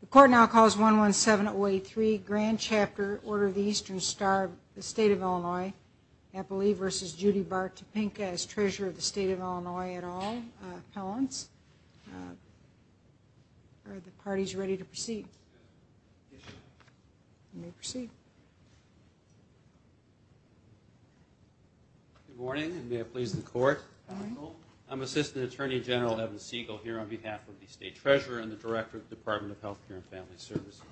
The Court now calls 117083, Grand Chapter, Order of the Eastern Star of the State of Illinois, Appley v. Judy Bart Topinka as Treasurer of the State of Illinois at all. Appellants, are the parties ready to proceed? Yes, Your Honor. You may proceed. Good morning, and may it please the Court. Good morning. I'm Assistant Attorney General Evan Siegel here on behalf of the State Treasurer and the Director of the Department of Health Care and Family Services.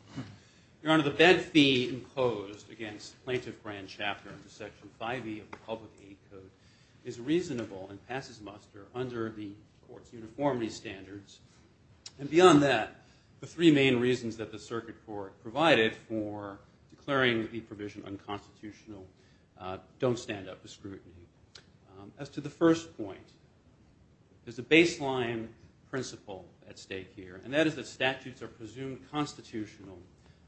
Your Honor, the bed fee imposed against Plaintiff Grand Chapter under Section 5e of the Public Aid Code is reasonable and passes muster under the Court's uniformity standards. And beyond that, the three main reasons that the Circuit Court provided for declaring the provision unconstitutional don't stand up to scrutiny. As to the first point, there's a baseline principle at stake here, and that is that statutes are presumed constitutional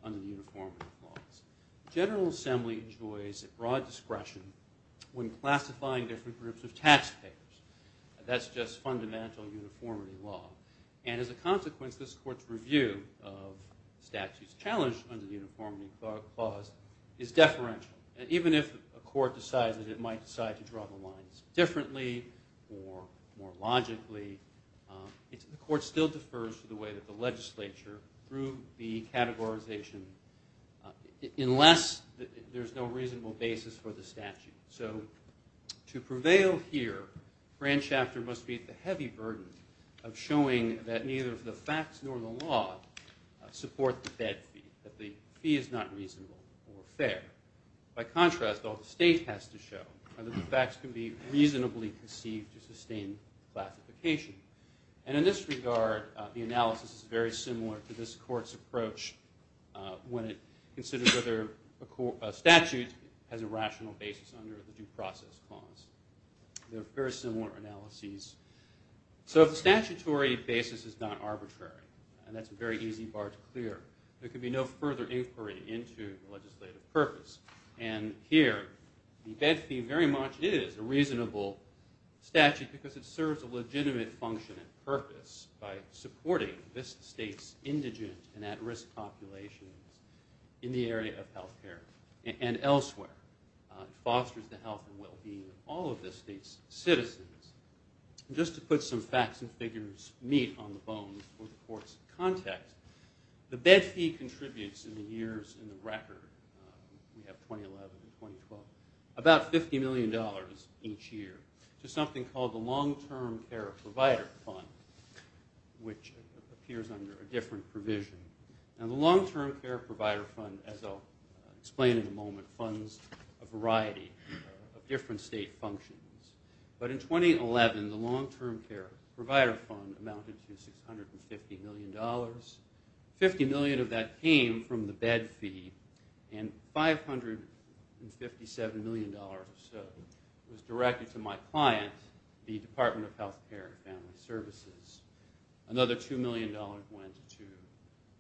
under the uniformity clause. The General Assembly enjoys broad discretion when classifying different groups of taxpayers. That's just fundamental uniformity law. And as a consequence, this Court's review of statutes challenged under the uniformity clause is deferential. And even if a court decides that it might decide to draw the lines differently or more logically, the Court still defers to the way that the legislature, through the categorization, unless there's no reasonable basis for the statute. So to prevail here, Grand Chapter must meet the heavy burden of showing that neither the facts nor the law support the bed fee, that the fee is not reasonable or fair. By contrast, all the state has to show are that the facts can be reasonably conceived to sustain classification. And in this regard, the analysis is very similar to this Court's approach when it considers whether a statute has a rational basis under the due process clause. They're very similar analyses. So if the statutory basis is not arbitrary, and that's a very easy bar to clear, there can be no further inquiry into the legislative purpose. And here, the bed fee very much is a reasonable statute because it serves a legitimate function and purpose by supporting this state's indigent and at-risk populations in the area of health care and elsewhere. It fosters the health and well-being of all of the state's citizens. Just to put some facts and figures neat on the bones for the Court's context, the bed fee contributes in the years in the record, we have 2011 and 2012, about $50 million each year to something called the Long-Term Care Provider Fund, which appears under a different provision. And the Long-Term Care Provider Fund, as I'll explain in a moment, funds a variety of different state functions. But in 2011, the Long-Term Care Provider Fund amounted to $650 million. $50 million of that came from the bed fee, and $557 million was directed to my client, the Department of Health Care and Family Services. Another $2 million went to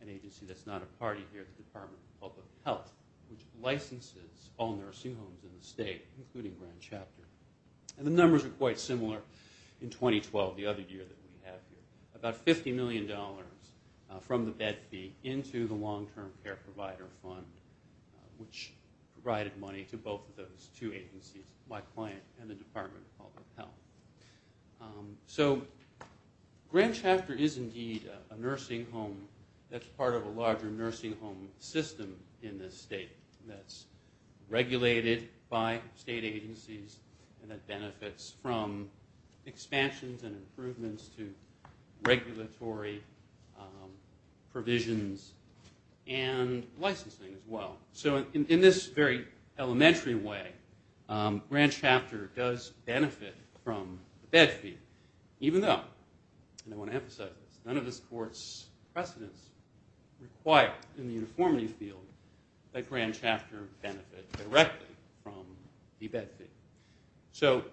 an agency that's not a party here, the Department of Public Health, which licenses all nursing homes in the state, including Grand Chapter. And the numbers are quite similar in 2012, the other year that we have here. About $50 million from the bed fee into the Long-Term Care Provider Fund, which provided money to both of those two agencies, my client and the Department of Public Health. So Grand Chapter is indeed a nursing home that's part of a larger nursing home system in this state that's regulated by state agencies and that benefits from expansions and improvements to regulatory provisions and licensing as well. So in this very elementary way, Grand Chapter does benefit from the bed fee, even though, and I want to emphasize this, none of this court's precedents require, in the uniformity field, that Grand Chapter benefit directly from the bed fee. So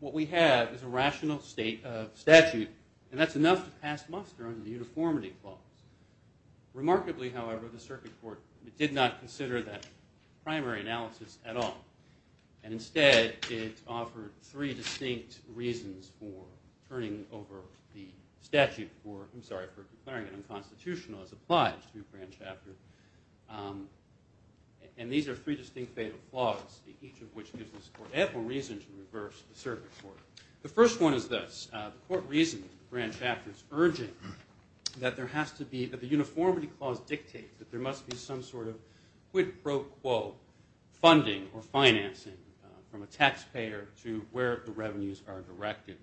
what we have is a rational statute, and that's enough to pass muster on the uniformity clause. Remarkably, however, the circuit court did not consider that primary analysis at all. And instead, it offered three distinct reasons for turning over the statute for, I'm sorry, for declaring it unconstitutional as applied to Grand Chapter. And these are three distinct fatal flaws, each of which gives this court ample reason to reverse the circuit court. The first one is this. The court reasoned Grand Chapter's urging that there has to be, that the uniformity clause dictates that there must be some sort of quid pro quo funding or financing from a taxpayer to where the revenues are directed,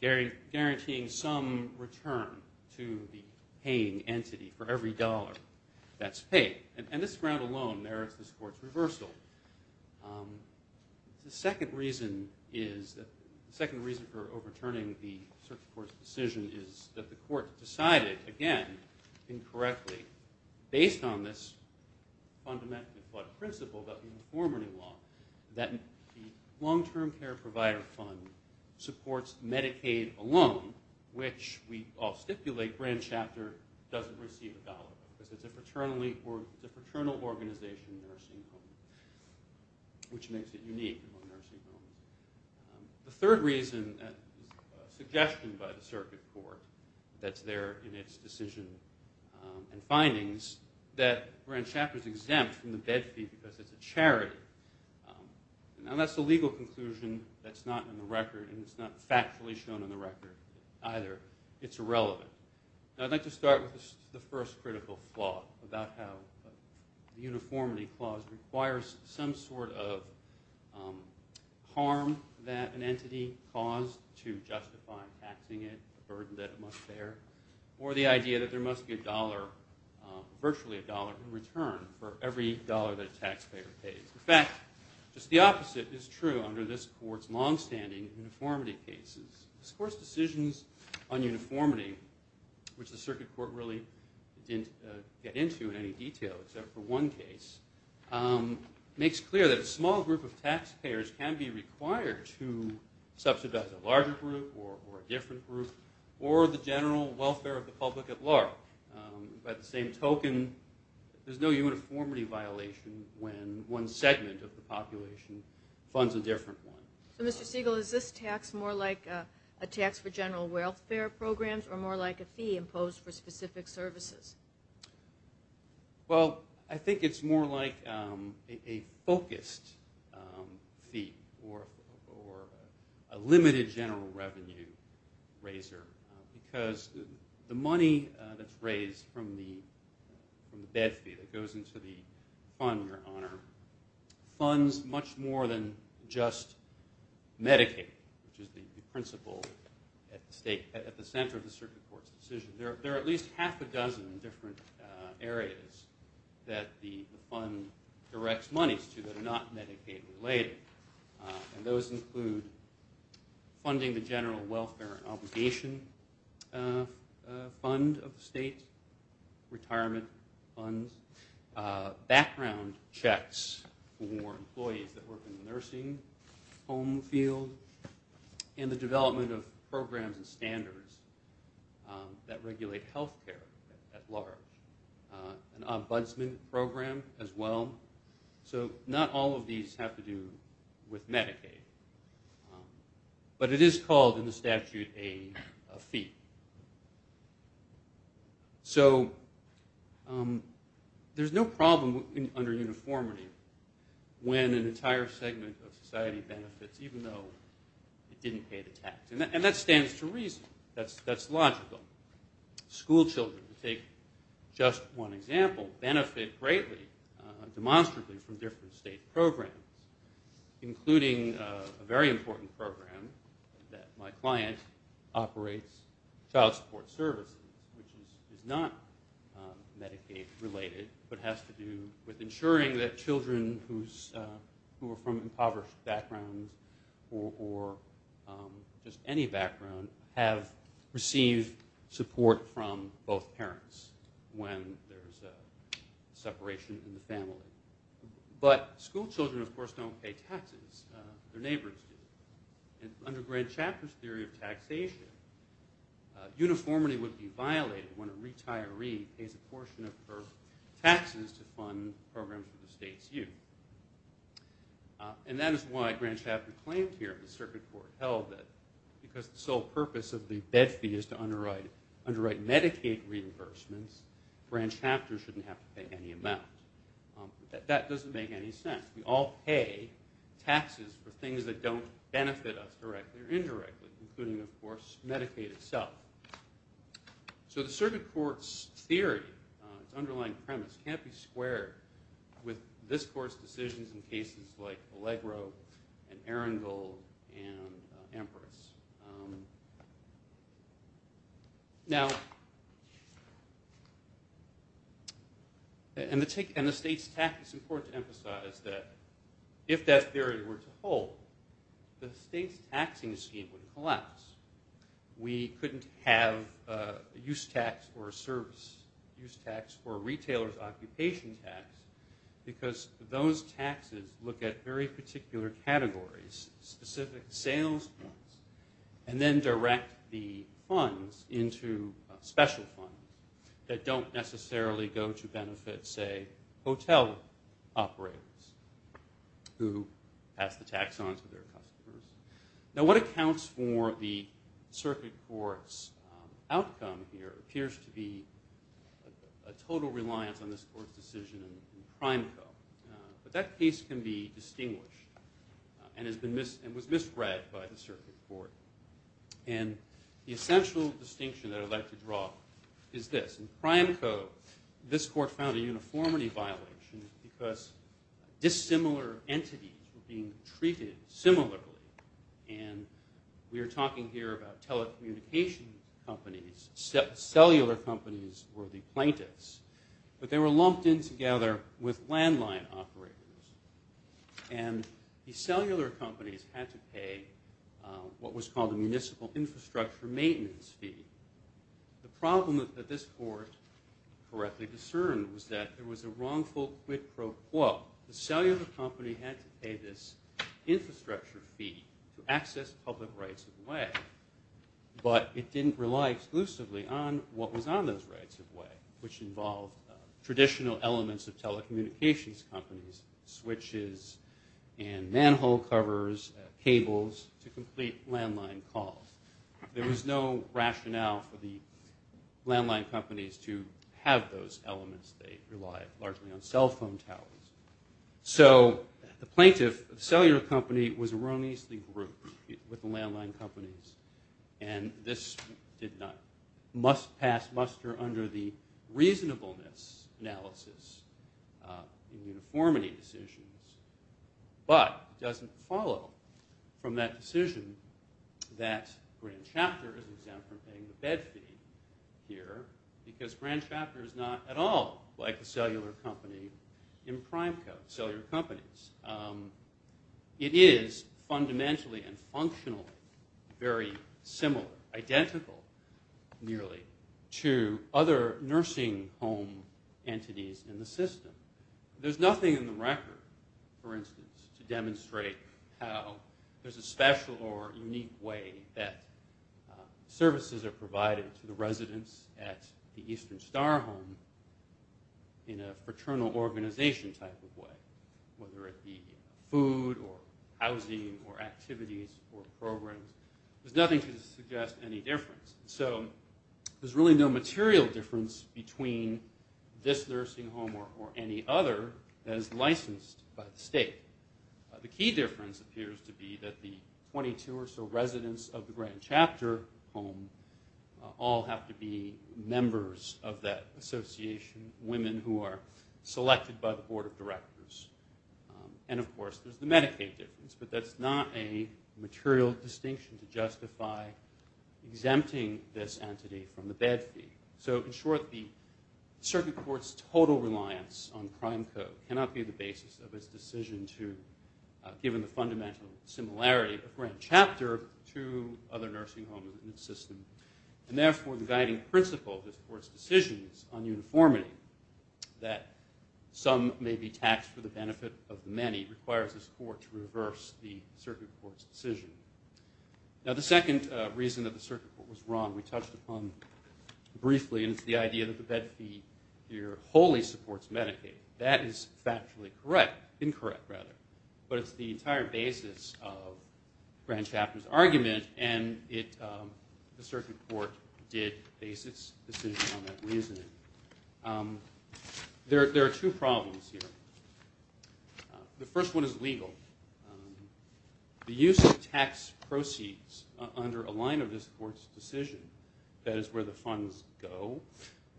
guaranteeing some return to the paying entity for every dollar that's paid. And this ground alone merits this court's reversal. The second reason for overturning the circuit court's decision is that the court decided, again, incorrectly, based on this fundamentally flawed principle about the uniformity law, that the long-term care provider fund supports Medicaid alone, which we all stipulate Grand Chapter doesn't receive a dollar because it's a paternal organization. Which makes it unique among nursing homes. The third reason, a suggestion by the circuit court that's there in its decision and findings, that Grand Chapter's exempt from the bed fee because it's a charity. Now, that's a legal conclusion that's not in the record, and it's not factually shown in the record either. It's irrelevant. Now, I'd like to start with the first critical flaw about how the uniformity clause requires some sort of harm that an entity caused to justify taxing it, a burden that it must bear, or the idea that there must be a dollar, virtually a dollar, in return for every dollar that a taxpayer pays. In fact, just the opposite is true under this court's longstanding uniformity cases. This court's decisions on uniformity, which the circuit court really didn't get into in any detail except for one case, makes clear that a small group of taxpayers can be required to subsidize a larger group or a different group or the general welfare of the public at large. By the same token, there's no uniformity violation when one segment of the population funds a different one. So, Mr. Siegel, is this tax more like a tax for general welfare programs or more like a fee imposed for specific services? Well, I think it's more like a focused fee or a limited general revenue raiser because the money that's raised from the bed fee that goes into the fund, Your Honor, funds much more than just Medicaid, which is the principle at the center of the circuit court's decision. There are at least half a dozen different areas that the fund directs monies to that are not Medicaid-related, and those include funding the general welfare and obligation fund of the state, retirement funds, background checks for employees that work in the nursing home field, and the development of programs and standards that regulate health care at large, an ombudsman program as well. So not all of these have to do with Medicaid, but it is called in the statute a fee. So there's no problem under uniformity when an entire segment of society benefits even though it didn't pay the tax, and that stands to reason. That's logical. Schoolchildren, to take just one example, benefit greatly demonstrably from different state programs, including a very important program that my client operates, child support services, which is not Medicaid-related but has to do with ensuring that children who are from impoverished backgrounds or just any background have received support from both parents when there's a separation in the family. But schoolchildren, of course, don't pay taxes. Their neighbors do. And under Grant Chapter's theory of taxation, uniformity would be violated when a retiree pays a portion of her taxes to fund programs for the state's youth. And that is why Grant Chapter claimed here that the Circuit Court held that because the sole purpose of the bed fee is to underwrite Medicaid reimbursements, Grant Chapter shouldn't have to pay any amount. That doesn't make any sense. We all pay taxes for things that don't benefit us directly or indirectly, including, of course, Medicaid itself. So the Circuit Court's theory, its underlying premise, can't be squared with this Court's decisions in cases like Allegro and Aaronville and Amherst. Now, and the state's tax, it's important to emphasize that if that theory were to hold, the state's taxing scheme would collapse. We couldn't have a use tax or a service use tax or a retailer's occupation tax because those taxes look at very particular categories, specific sales funds, and then direct the funds into special funds that don't necessarily go to benefit, say, hotel operators who pass the tax on to their customers. Now, what accounts for the Circuit Court's outcome here appears to be a total reliance on this Court's decision in Prime Co. But that case can be distinguished and was misread by the Circuit Court. And the essential distinction that I'd like to draw is this. In Prime Co., this Court found a uniformity violation because dissimilar entities were being treated similarly. And we are talking here about telecommunication companies. Cellular companies were the plaintiffs. But they were lumped in together with landline operators. And the cellular companies had to pay what was called a municipal infrastructure maintenance fee. The problem that this Court correctly discerned was that there was a wrongful quid pro quo. The cellular company had to pay this infrastructure fee to access public rights of way. But it didn't rely exclusively on what was on those rights of way, which involved traditional elements of telecommunications companies, switches and manhole covers, cables to complete landline calls. There was no rationale for the landline companies to have those elements. They relied largely on cell phone towers. So the plaintiff, the cellular company, was erroneously grouped with the landline companies. And this did not must pass muster under the reasonableness analysis of the uniformity decisions. But it doesn't follow from that decision that Grand Chapter is exempt from paying the bed fee here because Grand Chapter is not at all like a cellular company in prime code cellular companies. It is fundamentally and functionally very similar, identical nearly, to other nursing home entities in the system. There's nothing in the record, for instance, to demonstrate how there's a special or unique way that services are provided to the residents at the Eastern Star Home in a fraternal organization type of way, whether it be food or housing or activities or programs. There's nothing to suggest any difference. So there's really no material difference between this nursing home or any other that is licensed by the state. The key difference appears to be that the 22 or so residents of the Grand Chapter home all have to be members of that association, women who are selected by the board of directors. And, of course, there's the Medicaid difference. But that's not a material distinction to justify exempting this entity from the bed fee. So, in short, the circuit court's total reliance on prime code cannot be the basis of its decision to, given the fundamental similarity of Grand Chapter to other nursing homes in the system. And, therefore, the guiding principle of this court's decision is on uniformity, that some may be taxed for the benefit of the many, requires this court to reverse the circuit court's decision. Now, the second reason that the circuit court was wrong we touched upon briefly, and it's the idea that the bed fee here wholly supports Medicaid. That is factually correct, incorrect rather. But it's the entire basis of Grand Chapter's argument, and the circuit court did base its decision on that reasoning. There are two problems here. The first one is legal. The use of tax proceeds under a line of this court's decision, that is where the funds go,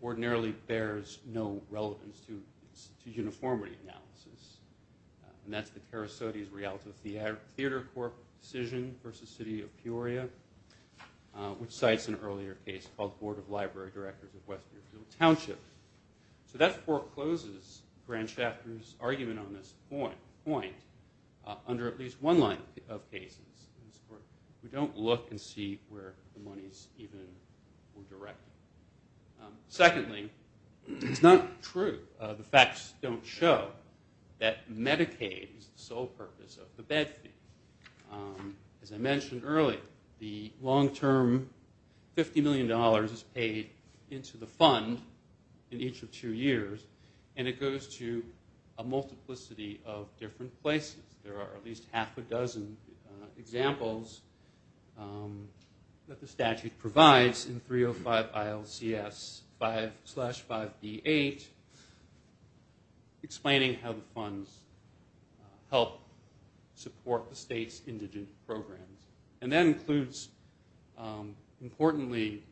ordinarily bears no relevance to uniformity analysis. And that's the Perissotis Realta Theater Corps decision versus City of Peoria, which cites an earlier case called Board of Library Directors of Westmerefield Township. So that forecloses Grand Chapter's argument on this point under at least one line of cases. We don't look and see where the money's even directed. Secondly, it's not true. The facts don't show that Medicaid is the sole purpose of the bed fee. As I mentioned earlier, the long-term $50 million is paid into the fund in each of two years, and it goes to a multiplicity of different places. There are at least half a dozen examples that the statute provides in 305 ILCS 5-5B8, explaining how the funds help support the state's indigent programs. And that includes, importantly,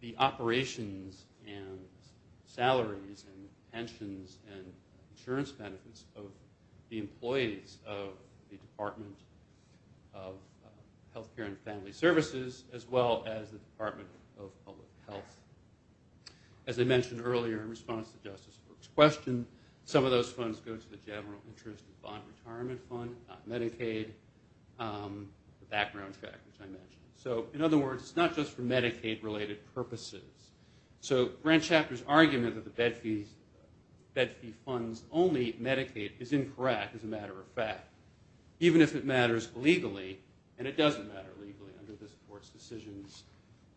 the operations and salaries and pensions and insurance benefits of the employees of the Department of Health Care and Family Services, as well as the Department of Public Health. As I mentioned earlier in response to Justice Brooks' question, some of those funds go to the general interest and bond retirement fund, not Medicaid, the background factors I mentioned. So in other words, it's not just for Medicaid-related purposes. So Grant Chapter's argument that the bed fee funds only Medicaid is incorrect, as a matter of fact, even if it matters legally. And it doesn't matter legally under this Court's decisions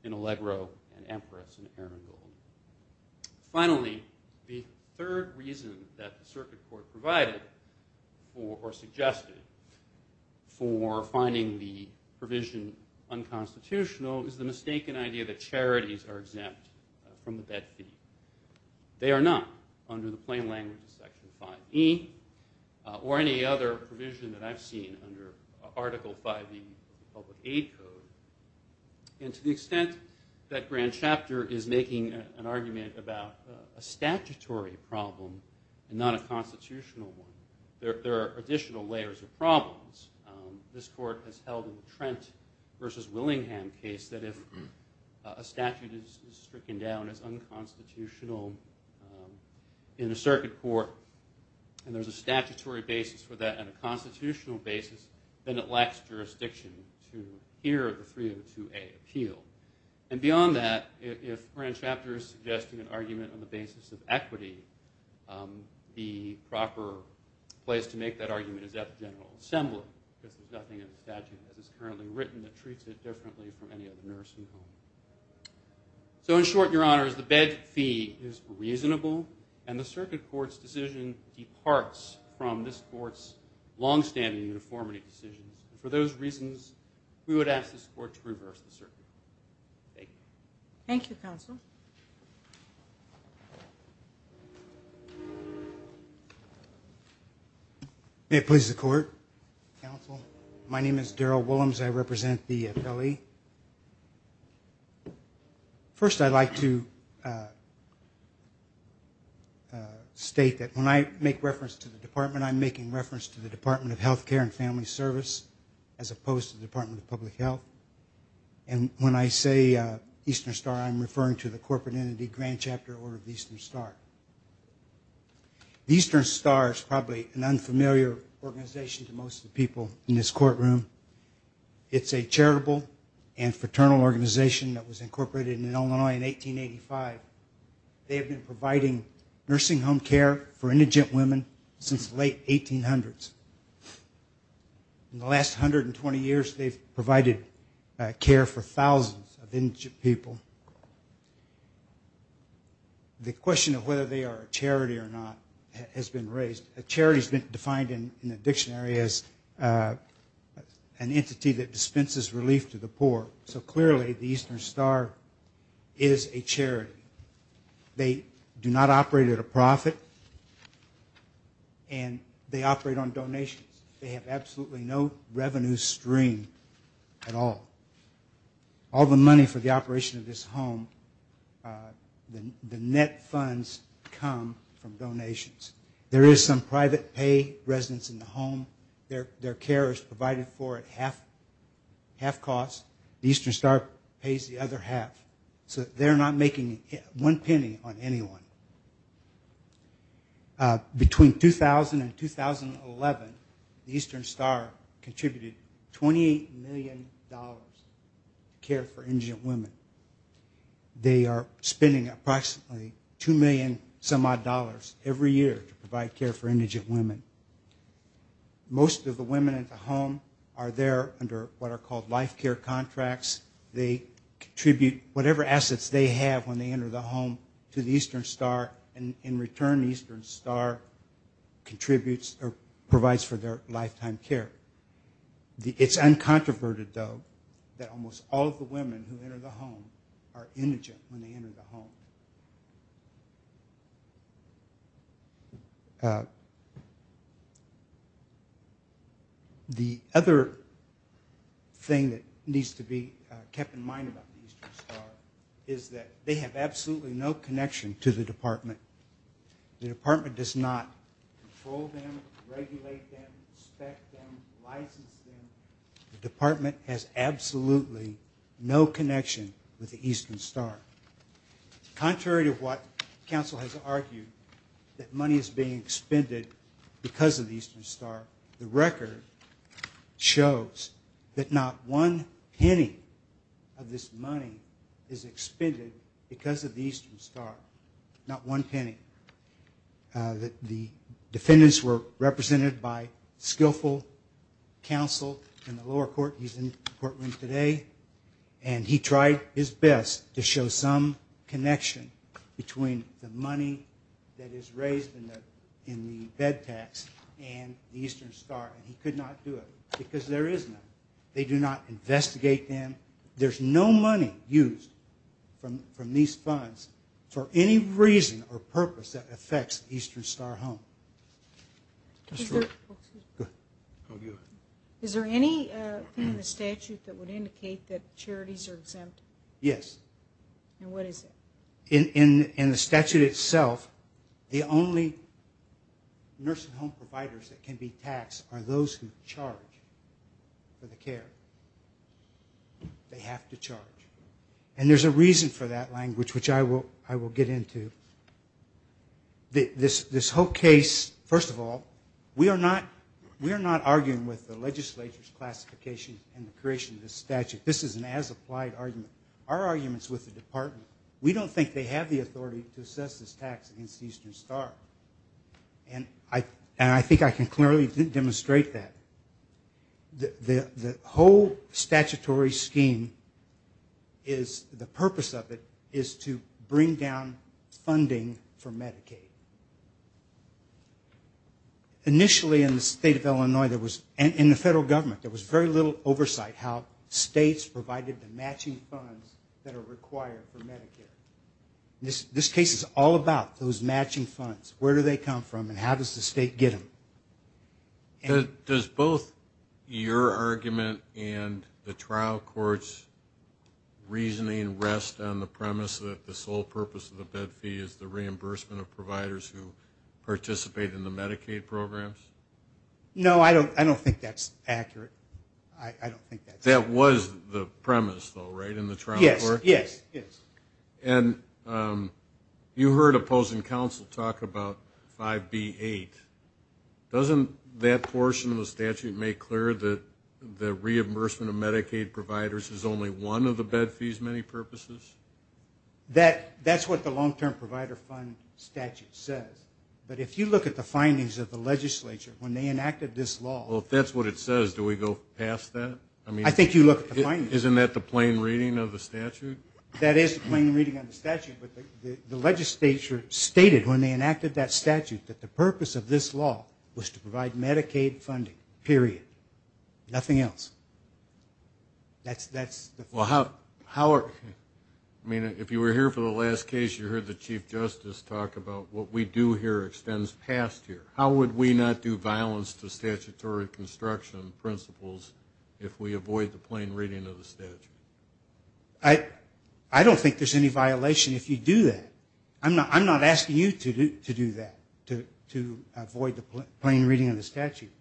in Allegro and Empress and Erringold. Finally, the third reason that the circuit court provided or suggested for finding the provision unconstitutional is the mistaken idea that charities are exempt from the bed fee. They are not, under the plain language of Section 5E, or any other provision that I've seen under Article 5E of the Public Aid Code. And to the extent that Grant Chapter is making an argument about a statutory problem and not a constitutional one, there are additional layers of problems. This Court has held in the Trent v. Willingham case that if a statute is stricken down as unconstitutional in a circuit court and there's a statutory basis for that and a constitutional basis, then it lacks jurisdiction to hear the 302A appeal. And beyond that, if Grant Chapter is suggesting an argument on the basis of equity, the proper place to make that argument is at the General Assembly, because there's nothing in the statute that is currently written that treats it differently from any other nursing home. So in short, Your Honors, the bed fee is reasonable, and the circuit court's decision departs from this Court's longstanding uniformity decisions. For those reasons, we would ask this Court to reverse the circuit. Thank you. Thank you, Counsel. May it please the Court? Counsel? My name is Darrell Willems. I represent the FLE. First, I'd like to state that when I make reference to the Department, I'm making reference to the Department of Health Care and Family Service, as opposed to the Department of Public Health. And when I say Eastern Star, I'm referring to the corporate entity, Grant Chapter, or the Eastern Star. The Eastern Star is probably an unfamiliar organization to most people in this courtroom. It's a charitable and fraternal organization that was incorporated in Illinois in 1885. They have been providing nursing home care for indigent women since the late 1800s. In the last 120 years, they've provided care for thousands of indigent people. The question of whether they are a charity or not has been raised. A charity has been defined in the dictionary as an entity that dispenses relief to the poor. So clearly, the Eastern Star is a charity. They do not operate at a profit, and they operate on donations. They have absolutely no revenue stream at all. All the money for the operation of this home, the net funds come from donations. There is some private pay residents in the home. Their care is provided for at half cost. The Eastern Star pays the other half, so they're not making one penny on anyone. Between 2000 and 2011, the Eastern Star contributed $28 million to care for indigent women. They are spending approximately $2 million-some-odd every year to provide care for indigent women. Most of the women at the home are there under what are called life care contracts. They contribute whatever assets they have when they enter the home to the Eastern Star, and in return, the Eastern Star contributes or provides for their lifetime care. It's uncontroverted, though, that almost all of the women who enter the home are indigent when they enter the home. The other thing that needs to be kept in mind about the Eastern Star is that they have absolutely no connection to the department. The department does not control them, regulate them, inspect them, license them. The department has absolutely no connection with the Eastern Star. Contrary to what counsel has argued, that money is being expended because of the Eastern Star, the record shows that not one penny of this money is expended because of the Eastern Star. Not one penny. The defendants were represented by skillful counsel in the lower court. He's in the courtroom today, and he tried his best to show some connection between the money that is raised in the bed tax and the Eastern Star, and he could not do it because there is none. They do not investigate them. There's no money used from these funds for any reason or purpose that affects the Eastern Star home. That's true. Is there any thing in the statute that would indicate that charities are exempt? Yes. And what is it? In the statute itself, the only nursing home providers that can be taxed are those who charge for the care. They have to charge. And there's a reason for that language, which I will get into. This whole case, first of all, we are not arguing with the legislature's classification and the creation of this statute. This is an as-applied argument. Our argument is with the department. We don't think they have the authority to assess this tax against the Eastern Star, and I think I can clearly demonstrate that. The whole statutory scheme, the purpose of it is to bring down funding for Medicaid. Initially in the state of Illinois, in the federal government, there was very little oversight how states provided the matching funds that are required for Medicare. This case is all about those matching funds. Where do they come from and how does the state get them? Does both your argument and the trial court's reasoning rest on the premise that the sole purpose of the bed fee is the reimbursement of providers who participate in the Medicaid programs? No, I don't think that's accurate. I don't think that's accurate. That was the premise, though, right, in the trial court case? Yes, yes, yes. And you heard opposing counsel talk about 5B-8. Doesn't that portion of the statute make clear that the reimbursement of Medicaid providers is only one of the bed fees' many purposes? That's what the long-term provider fund statute says, but if you look at the findings of the legislature when they enacted this law. Well, if that's what it says, do we go past that? I think you look at the findings. Isn't that the plain reading of the statute? That is the plain reading of the statute, but the legislature stated when they enacted that statute that the purpose of this law was to provide Medicaid funding, period, nothing else. That's the point. Well, if you were here for the last case, you heard the Chief Justice talk about what we do here extends past here. How would we not do violence to statutory construction principles if we avoid the plain reading of the statute? I don't think there's any violation if you do that. I'm not asking you to do that, to avoid the plain reading of the statute.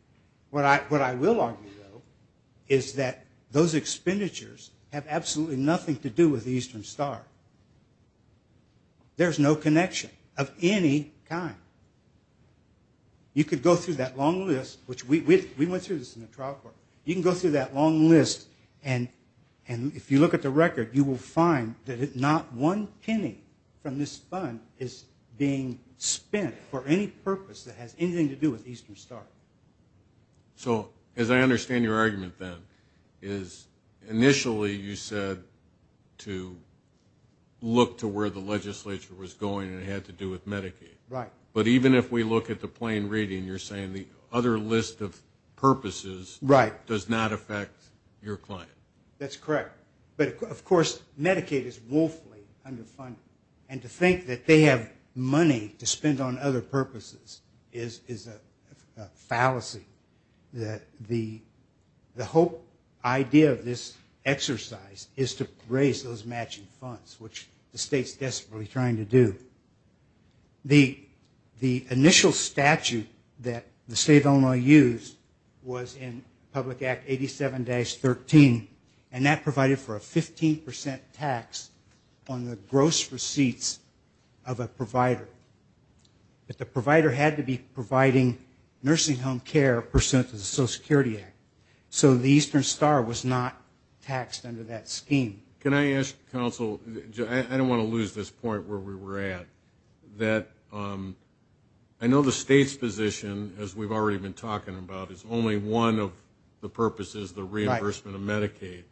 What I will argue, though, is that those expenditures have absolutely nothing to do with the Eastern Star. There's no connection of any kind. You could go through that long list, which we went through this in the trial court. You can go through that long list, and if you look at the record, you will find that not one penny from this fund is being spent for any purpose that has anything to do with the Eastern Star. So as I understand your argument, then, is initially you said to look to where the legislature was going, and it had to do with Medicaid. But even if we look at the plain reading, you're saying the other list of purposes does not affect your client. That's correct. But, of course, Medicaid is woefully underfunded, and to think that they have money to spend on other purposes is a fallacy. The whole idea of this exercise is to raise those matching funds, which the state's desperately trying to do. The initial statute that the state of Illinois used was in Public Act 87-13, and that provided for a 15% tax on the gross receipts of a provider. But the provider had to be providing nursing home care pursuant to the Social Security Act, so the Eastern Star was not taxed under that scheme. Can I ask counsel, I don't want to lose this point where we were at, that I know the state's position, as we've already been talking about, is only one of the purposes, the reimbursement of Medicaid.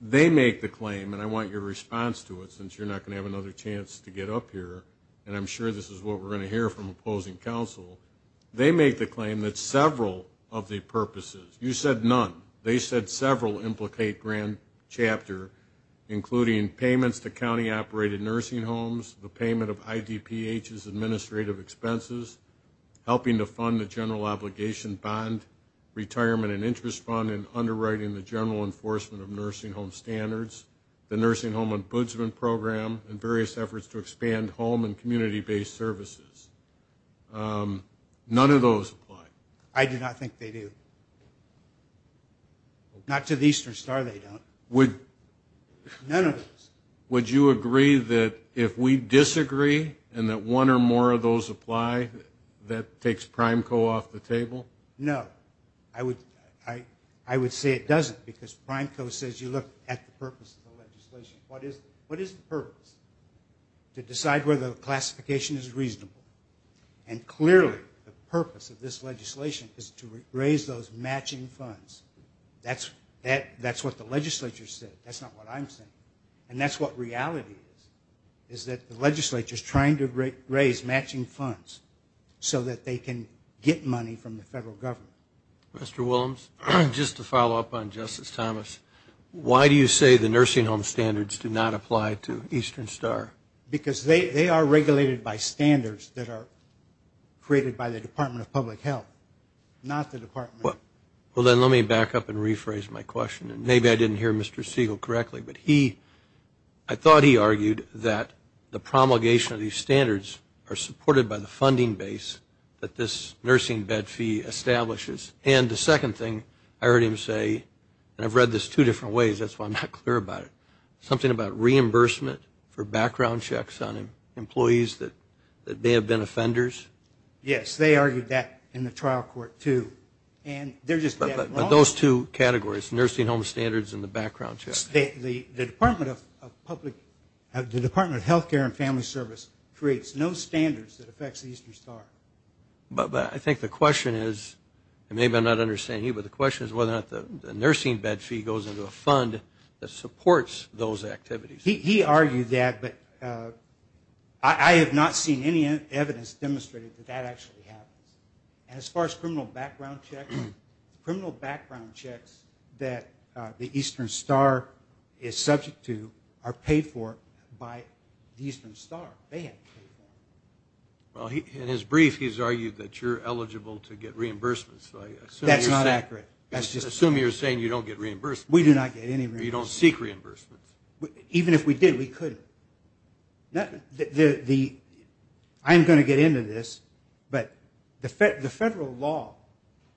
They make the claim, and I want your response to it, since you're not going to have another chance to get up here, and I'm sure this is what we're going to hear from opposing counsel. They make the claim that several of the purposes, you said none, they said several implicate grand chapter, including payments to county-operated nursing homes, the payment of IDPH's administrative expenses, helping to fund the general obligation bond, retirement and interest fund, and underwriting the general enforcement of nursing home standards, the nursing home ombudsman program, and various efforts to expand home and community-based services. None of those apply. I do not think they do. Not to the Eastern Star they don't. None of those. Would you agree that if we disagree, and that one or more of those apply, that takes Prime Co. off the table? No. I would say it doesn't, because Prime Co. says, you look at the purpose of the legislation. What is the purpose? To decide whether the classification is reasonable. And clearly the purpose of this legislation is to raise those matching funds. That's what the legislature said. That's not what I'm saying. And that's what reality is, is that the legislature is trying to raise matching funds so that they can get money from the federal government. Mr. Willems, just to follow up on Justice Thomas, why do you say the nursing home standards do not apply to Eastern Star? Because they are regulated by standards that are created by the Department of Public Health, not the Department. Well, then let me back up and rephrase my question. Maybe I didn't hear Mr. Siegel correctly, but I thought he argued that the promulgation of these standards are supported by the funding base that this nursing bed fee establishes. And the second thing I heard him say, and I've read this two different ways, that's why I'm not clear about it, something about reimbursement for background checks on employees that may have been offenders? Yes, they argued that in the trial court too. But those two categories, nursing home standards and the background checks? The Department of Public Health, the Department of Health Care and Family Service, creates no standards that affects Eastern Star. But I think the question is, and maybe I'm not understanding you, but the question is whether or not the nursing bed fee goes into a fund that supports those activities. He argued that, but I have not seen any evidence demonstrating that that actually happens. And as far as criminal background checks, criminal background checks that the Eastern Star is subject to are paid for by the Eastern Star. They have to pay for them. In his brief, he's argued that you're eligible to get reimbursements. That's not accurate. Assume you're saying you don't get reimbursements. We do not get any reimbursements. You don't seek reimbursements. Even if we did, we couldn't. I'm going to get into this, but the federal law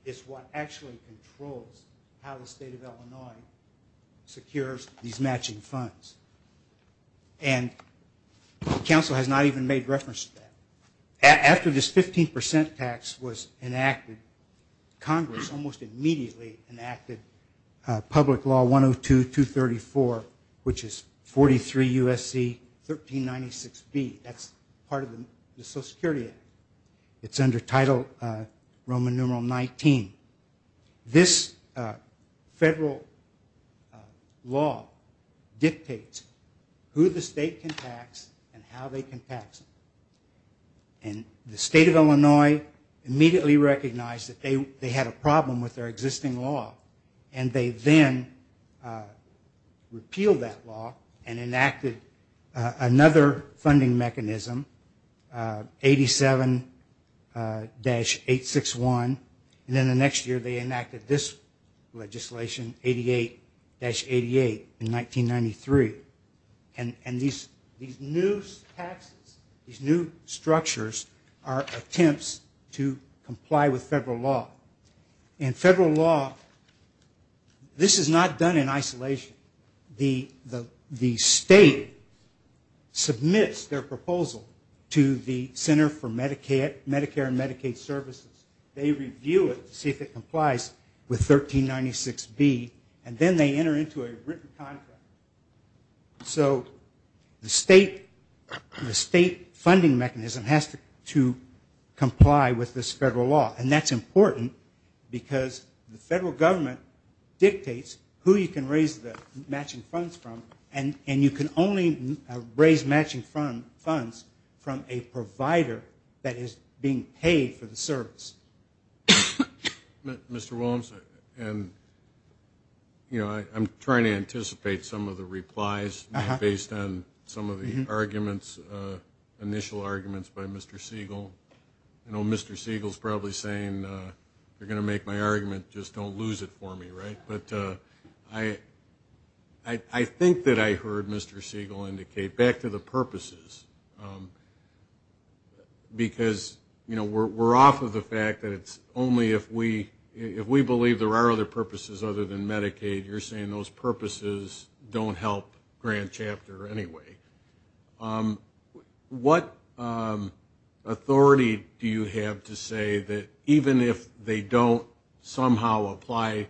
is what actually controls how the state of Illinois secures these matching funds. And the council has not even made reference to that. After this 15 percent tax was enacted, Congress almost immediately enacted public law 102-234, which is 43 U.S.C. 1396B. That's part of the Social Security Act. It's under title Roman numeral 19. This federal law dictates who the state can tax and how they can tax them. And the state of Illinois immediately recognized that they had a problem with their existing law, and they then repealed that law and enacted another funding mechanism, 87-861. And then the next year they enacted this legislation, 88-88 in 1993. And these new taxes, these new structures are attempts to comply with federal law. In federal law, this is not done in isolation. The state submits their proposal to the Center for Medicare and Medicaid Services. They review it to see if it complies with 1396B, and then they enter into a written contract. So the state funding mechanism has to comply with this federal law, and that's important because the federal government dictates who you can raise the matching funds from, and you can only raise matching funds from a provider that is being paid for the service. Mr. Williams, I'm trying to anticipate some of the replies based on some of the arguments, initial arguments by Mr. Siegel. Mr. Siegel is probably saying, if you're going to make my argument, just don't lose it for me, right? But I think that I heard Mr. Siegel indicate, back to the purposes, because, you know, we're off of the fact that it's only if we believe there are other purposes other than Medicaid. You're saying those purposes don't help Grant Chapter anyway. What authority do you have to say that even if they don't somehow apply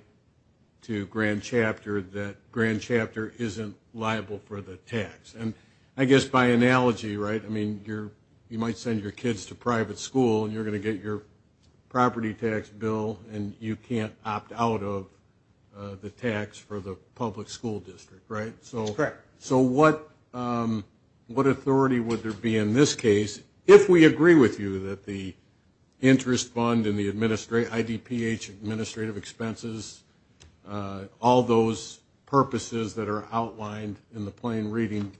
to Grant Chapter, that Grant Chapter isn't liable for the tax? And I guess by analogy, right, I mean you might send your kids to private school, and you're going to get your property tax bill, and you can't opt out of the tax for the public school district, right? Correct. So what authority would there be in this case if we agree with you that the interest fund and the IDPH administrative expenses, all those purposes that are outlined in the plain reading,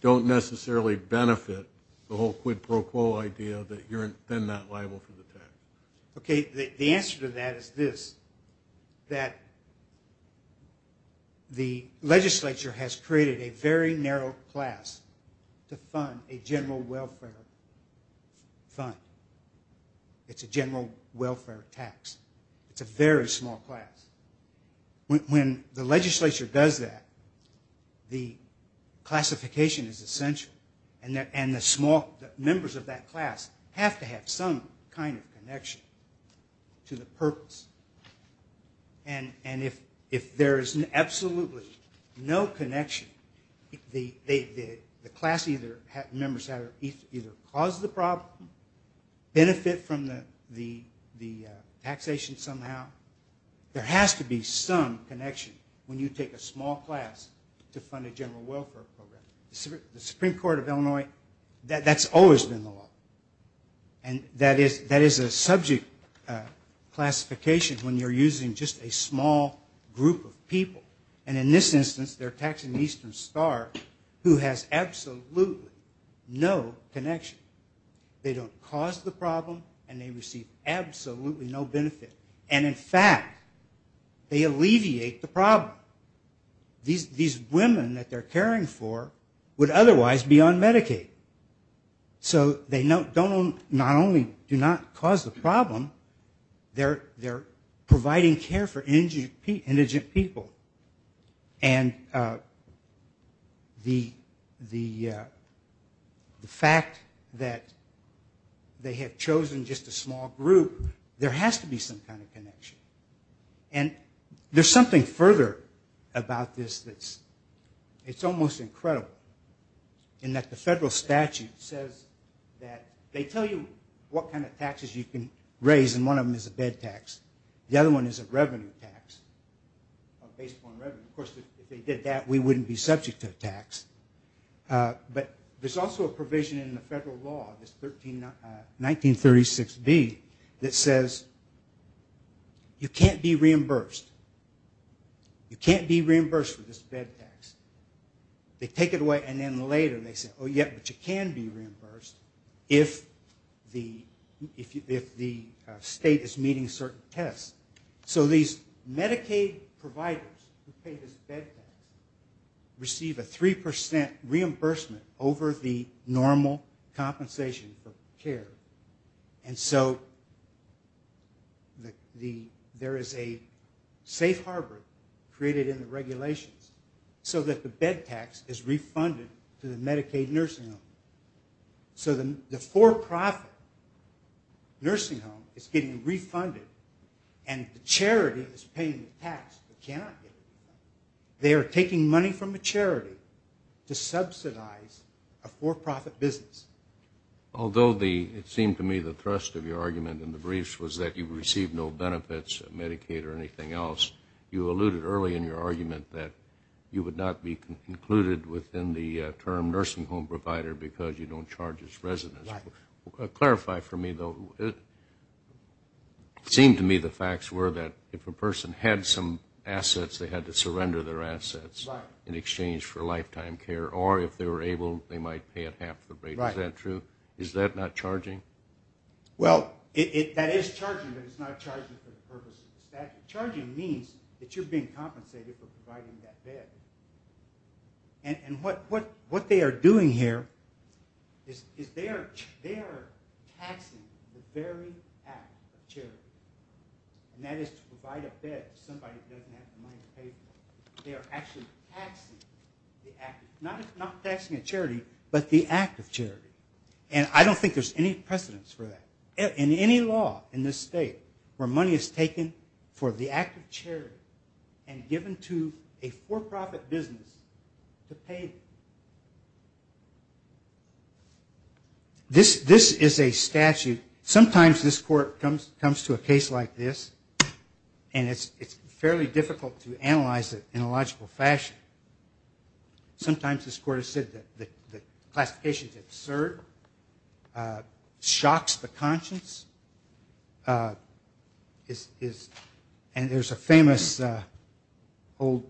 don't necessarily benefit the whole quid pro quo idea that you're then not liable for the tax? Okay, the answer to that is this, that the legislature has created a very narrow class to fund a general welfare fund. It's a general welfare tax. It's a very small class. When the legislature does that, the classification is essential, and the members of that class have to have some kind of connection to the purpose. And if there is absolutely no connection, the class members either cause the problem, benefit from the taxation somehow, there has to be some connection when you take a small class to fund a general welfare program. The Supreme Court of Illinois, that's always been the law, and that is a subject classification when you're using just a small group of people. And in this instance, they're taxing Eastern Star, who has absolutely no connection. They don't cause the problem, and they receive absolutely no benefit. And in fact, they alleviate the problem. These women that they're caring for would otherwise be on Medicaid, so they not only do not cause the problem, they're providing care for indigent people. And the fact that they have chosen just a small group, there has to be some kind of connection. And there's something further about this that's almost incredible, in that the federal statute says that they tell you what kind of taxes you can raise, and one of them is a bed tax. The other one is a revenue tax, a base point revenue. Of course, if they did that, we wouldn't be subject to a tax. But there's also a provision in the federal law, this 1936B, that says you can't be reimbursed. You can't be reimbursed for this bed tax. They take it away, and then later they say, oh, yeah, but you can be reimbursed if the state is meeting certain tests. So these Medicaid providers who pay this bed tax receive a 3% reimbursement over the normal compensation for care. And so there is a safe harbor created in the regulations so that the bed tax is refunded to the Medicaid nursing home. So the for-profit nursing home is getting refunded, and the charity is paying the tax, but cannot get it refunded. They are taking money from a charity to subsidize a for-profit business. Although it seemed to me the thrust of your argument in the briefs was that you received no benefits of Medicaid or anything else, you alluded early in your argument that you would not be included within the term nursing home provider because you don't charge its residents. Clarify for me, though. It seemed to me the facts were that if a person had some assets, they had to surrender their assets in exchange for lifetime care, or if they were able, they might pay it half the rate. Is that true? Is that not charging? Well, that is charging, but it's not charging for the purposes. Charging means that you're being compensated for providing that bed. And what they are doing here is they are taxing the very act of charity, and that is to provide a bed to somebody who doesn't have the money to pay for it. They are actually taxing the act, not taxing a charity, but the act of charity. And I don't think there's any precedence for that. In any law in this state where money is taken for the act of charity and given to a for-profit business to pay, this is a statute. Sometimes this court comes to a case like this, and it's fairly difficult to analyze it in a logical fashion. Sometimes this court has said that the classification is absurd, shocks the conscience, and there's a famous old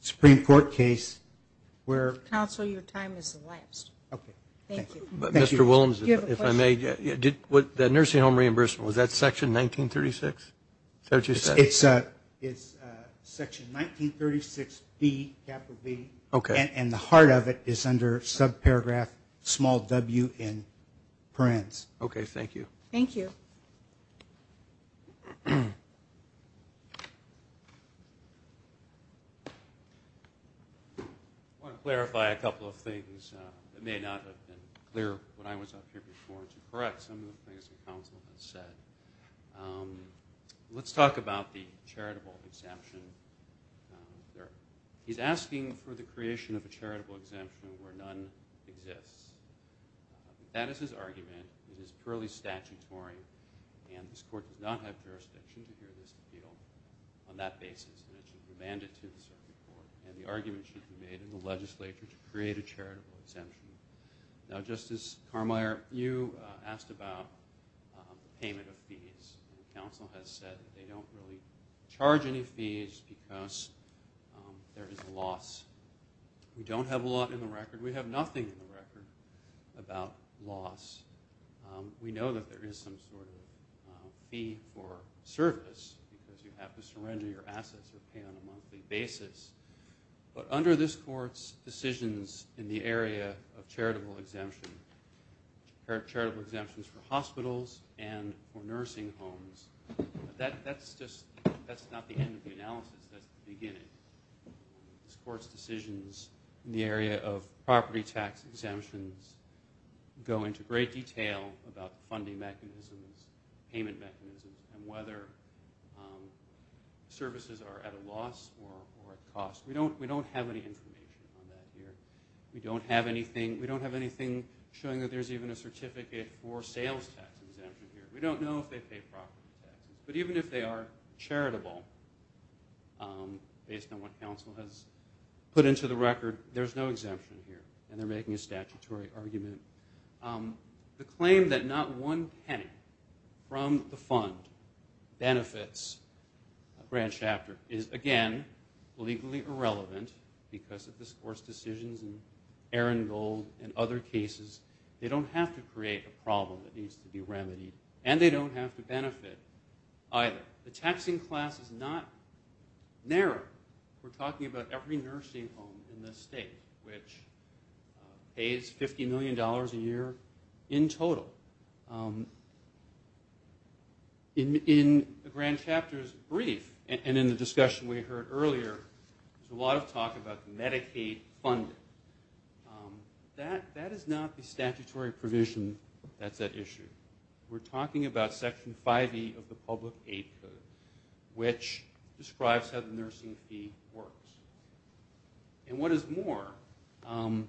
Supreme Court case where... Counsel, your time has elapsed. Okay. Thank you. Mr. Williams, if I may, the nursing home reimbursement, was that Section 1936? Is that what you said? It's Section 1936B, capital B. Okay. And the heart of it is under subparagraph small w in parens. Okay. Thank you. Thank you. I want to clarify a couple of things. It may not have been clear when I was up here before to correct some of the things the counsel has said. Let's talk about the charitable exemption. He's asking for the creation of a charitable exemption where none exists. That is his argument. It is purely statutory, and this court does not have jurisdiction to hear this appeal on that basis. It's a mandate to the Supreme Court, and the argument should be made in the legislature to create a charitable exemption. They don't really charge any fees because there is a loss. We don't have a lot in the record. We have nothing in the record about loss. We know that there is some sort of fee for service because you have to surrender your assets or pay on a monthly basis. But under this court's decisions in the area of charitable exemption, charitable exemptions for hospitals and for nursing homes, that's just not the end of the analysis. That's the beginning. This court's decisions in the area of property tax exemptions go into great detail about funding mechanisms, payment mechanisms, and whether services are at a loss or at cost. We don't have any information on that here. We don't have anything showing that there's even a certificate for sales tax exemption here. We don't know if they pay property tax, but even if they are charitable, based on what counsel has put into the record, there's no exemption here, and they're making a statutory argument. The claim that not one penny from the fund benefits a branch after is, again, legally irrelevant because of this court's decisions and Aaron Gold and other cases. They don't have to create a problem that needs to be remedied, and they don't have to benefit either. The taxing class is not narrow. We're talking about every nursing home in this state which pays $50 million a year in total. In the grand chapter's brief and in the discussion we heard earlier, there's a lot of talk about Medicaid funding. That is not the statutory provision that's at issue. We're talking about Section 5E of the Public Aid Code, which describes how the nursing fee works. And what is more, the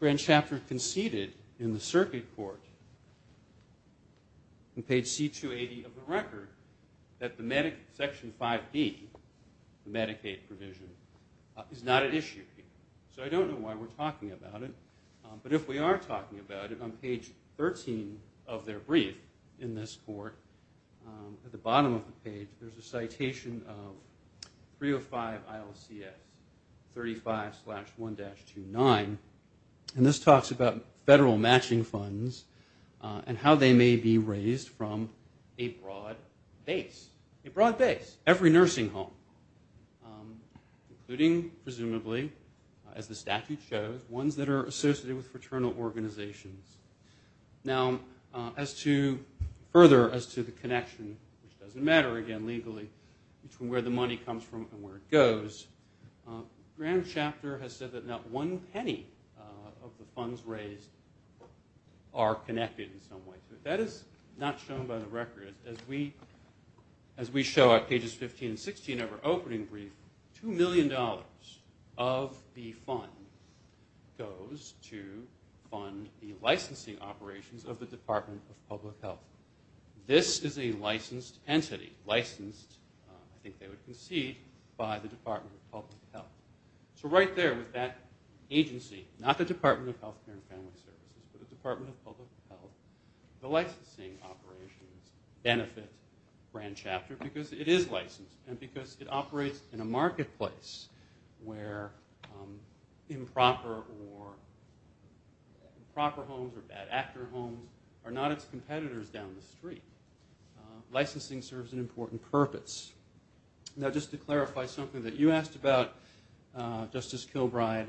grand chapter conceded in the circuit court, in page C280 of the record, that Section 5B, the Medicaid provision, is not at issue. So I don't know why we're talking about it, but if we are talking about it, on page 13 of their brief in this court, at the bottom of the page, there's a citation of 305 ILCS 35-1-29, and this talks about federal matching funds and how they may be raised from a broad base. A broad base. Every nursing home. Including, presumably, as the statute shows, ones that are associated with fraternal organizations. Now, further as to the connection, which doesn't matter, again, legally, between where the money comes from and where it goes, the grand chapter has said that not one penny of the funds raised are connected in some way. That is not shown by the record. As we show at pages 15 and 16 of our opening brief, $2 million of the fund goes to fund the licensing operations of the Department of Public Health. This is a licensed entity. Licensed, I think they would concede, by the Department of Public Health. So right there with that agency, not the Department of Health Care and Family Services, but the Department of Public Health, the licensing operations benefit grand chapter because it is licensed, and because it operates in a marketplace where improper or improper homes or bad actor homes are not its competitors down the street. Licensing serves an important purpose. Now, just to clarify something that you asked about, Justice Kilbride,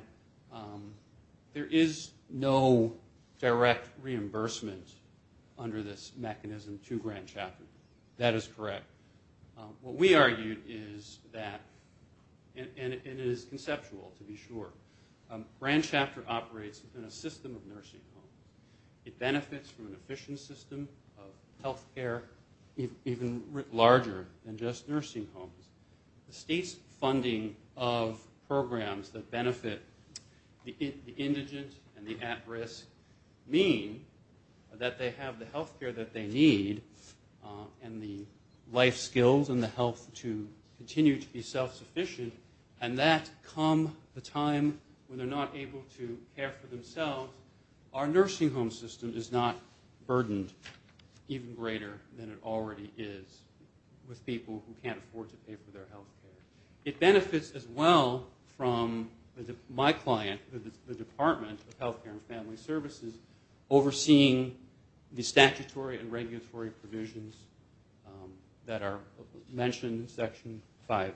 there is no direct reimbursement under this mechanism to grand chapter. That is correct. What we argued is that, and it is conceptual, to be sure, grand chapter operates in a system of nursing homes. It benefits from an efficient system of health care even larger than just nursing homes. The state's funding of programs that benefit the indigent and the at-risk mean that they have the health care that they need and the life skills and the health to continue to be self-sufficient, and that come the time when they're not able to care for themselves, our nursing home system is not burdened even greater than it already is with people who can't afford to pay for their health care. It benefits as well from my client, the Department of Health Care and Family Services, overseeing the statutory and regulatory provisions that are mentioned in Section 5B,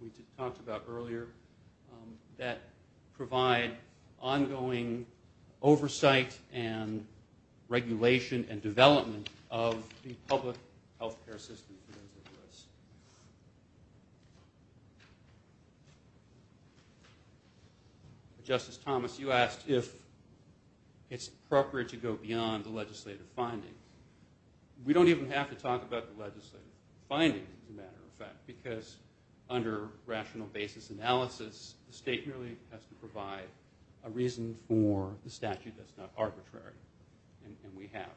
which we talked about earlier, that provide ongoing oversight and regulation and development of the public health care system in the U.S. Justice Thomas, you asked if it's appropriate to go beyond the legislative finding. We don't even have to talk about the legislative finding, as a matter of fact, because under rational basis analysis, the state merely has to provide a reason for the statute that's not arbitrary, and we have.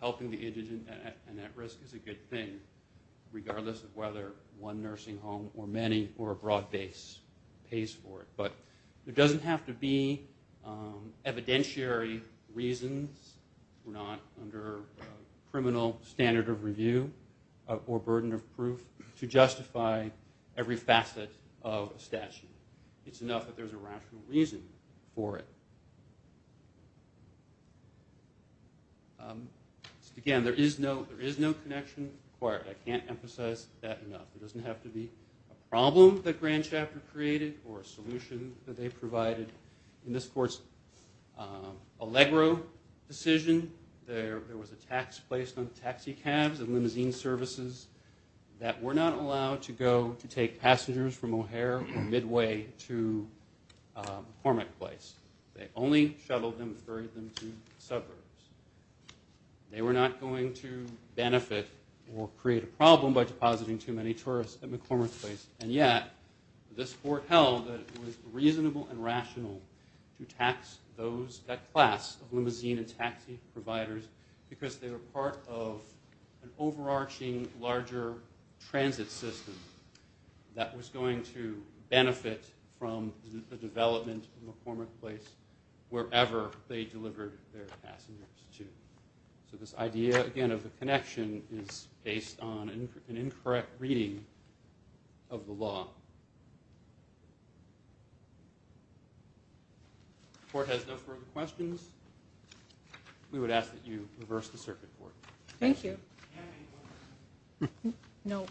Helping the indigent and at risk is a good thing, regardless of whether one nursing home or many or a broad base pays for it. But it doesn't have to be evidentiary reasons. We're not under a criminal standard of review or burden of proof to justify every facet of a statute. It's enough that there's a rational reason for it. Again, there is no connection required. I can't emphasize that enough. It doesn't have to be a problem that Grand Chapter created or a solution that they provided. In this court's Allegro decision, there was a tax placed on taxi cabs and limousine services that were not allowed to go to take passengers from O'Hare or Midway to McCormick Place. They only shuttled them and ferried them to the suburbs. They were not going to benefit or create a problem by depositing too many tourists at McCormick Place, and yet this court held that it was reasonable and rational to tax that class of limousine and taxi providers because they were part of an overarching, larger transit system that was going to benefit from the development of McCormick Place wherever they delivered their passengers to. So this idea, again, of the connection is based on an incorrect reading of the law. If the court has no further questions, we would ask that you reverse the circuit court. Thank you. No.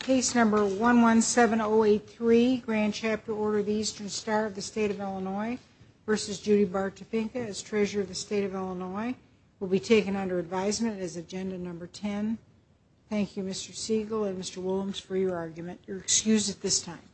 Case number 117083, Grand Chapter Order of the Eastern Star of the State of Illinois versus Judy Bartopinka as Treasurer of the State of Illinois will be taken under advisement as Agenda Number 10. Thank you, Mr. Siegel and Mr. Willems, for your argument. You're excused at this time.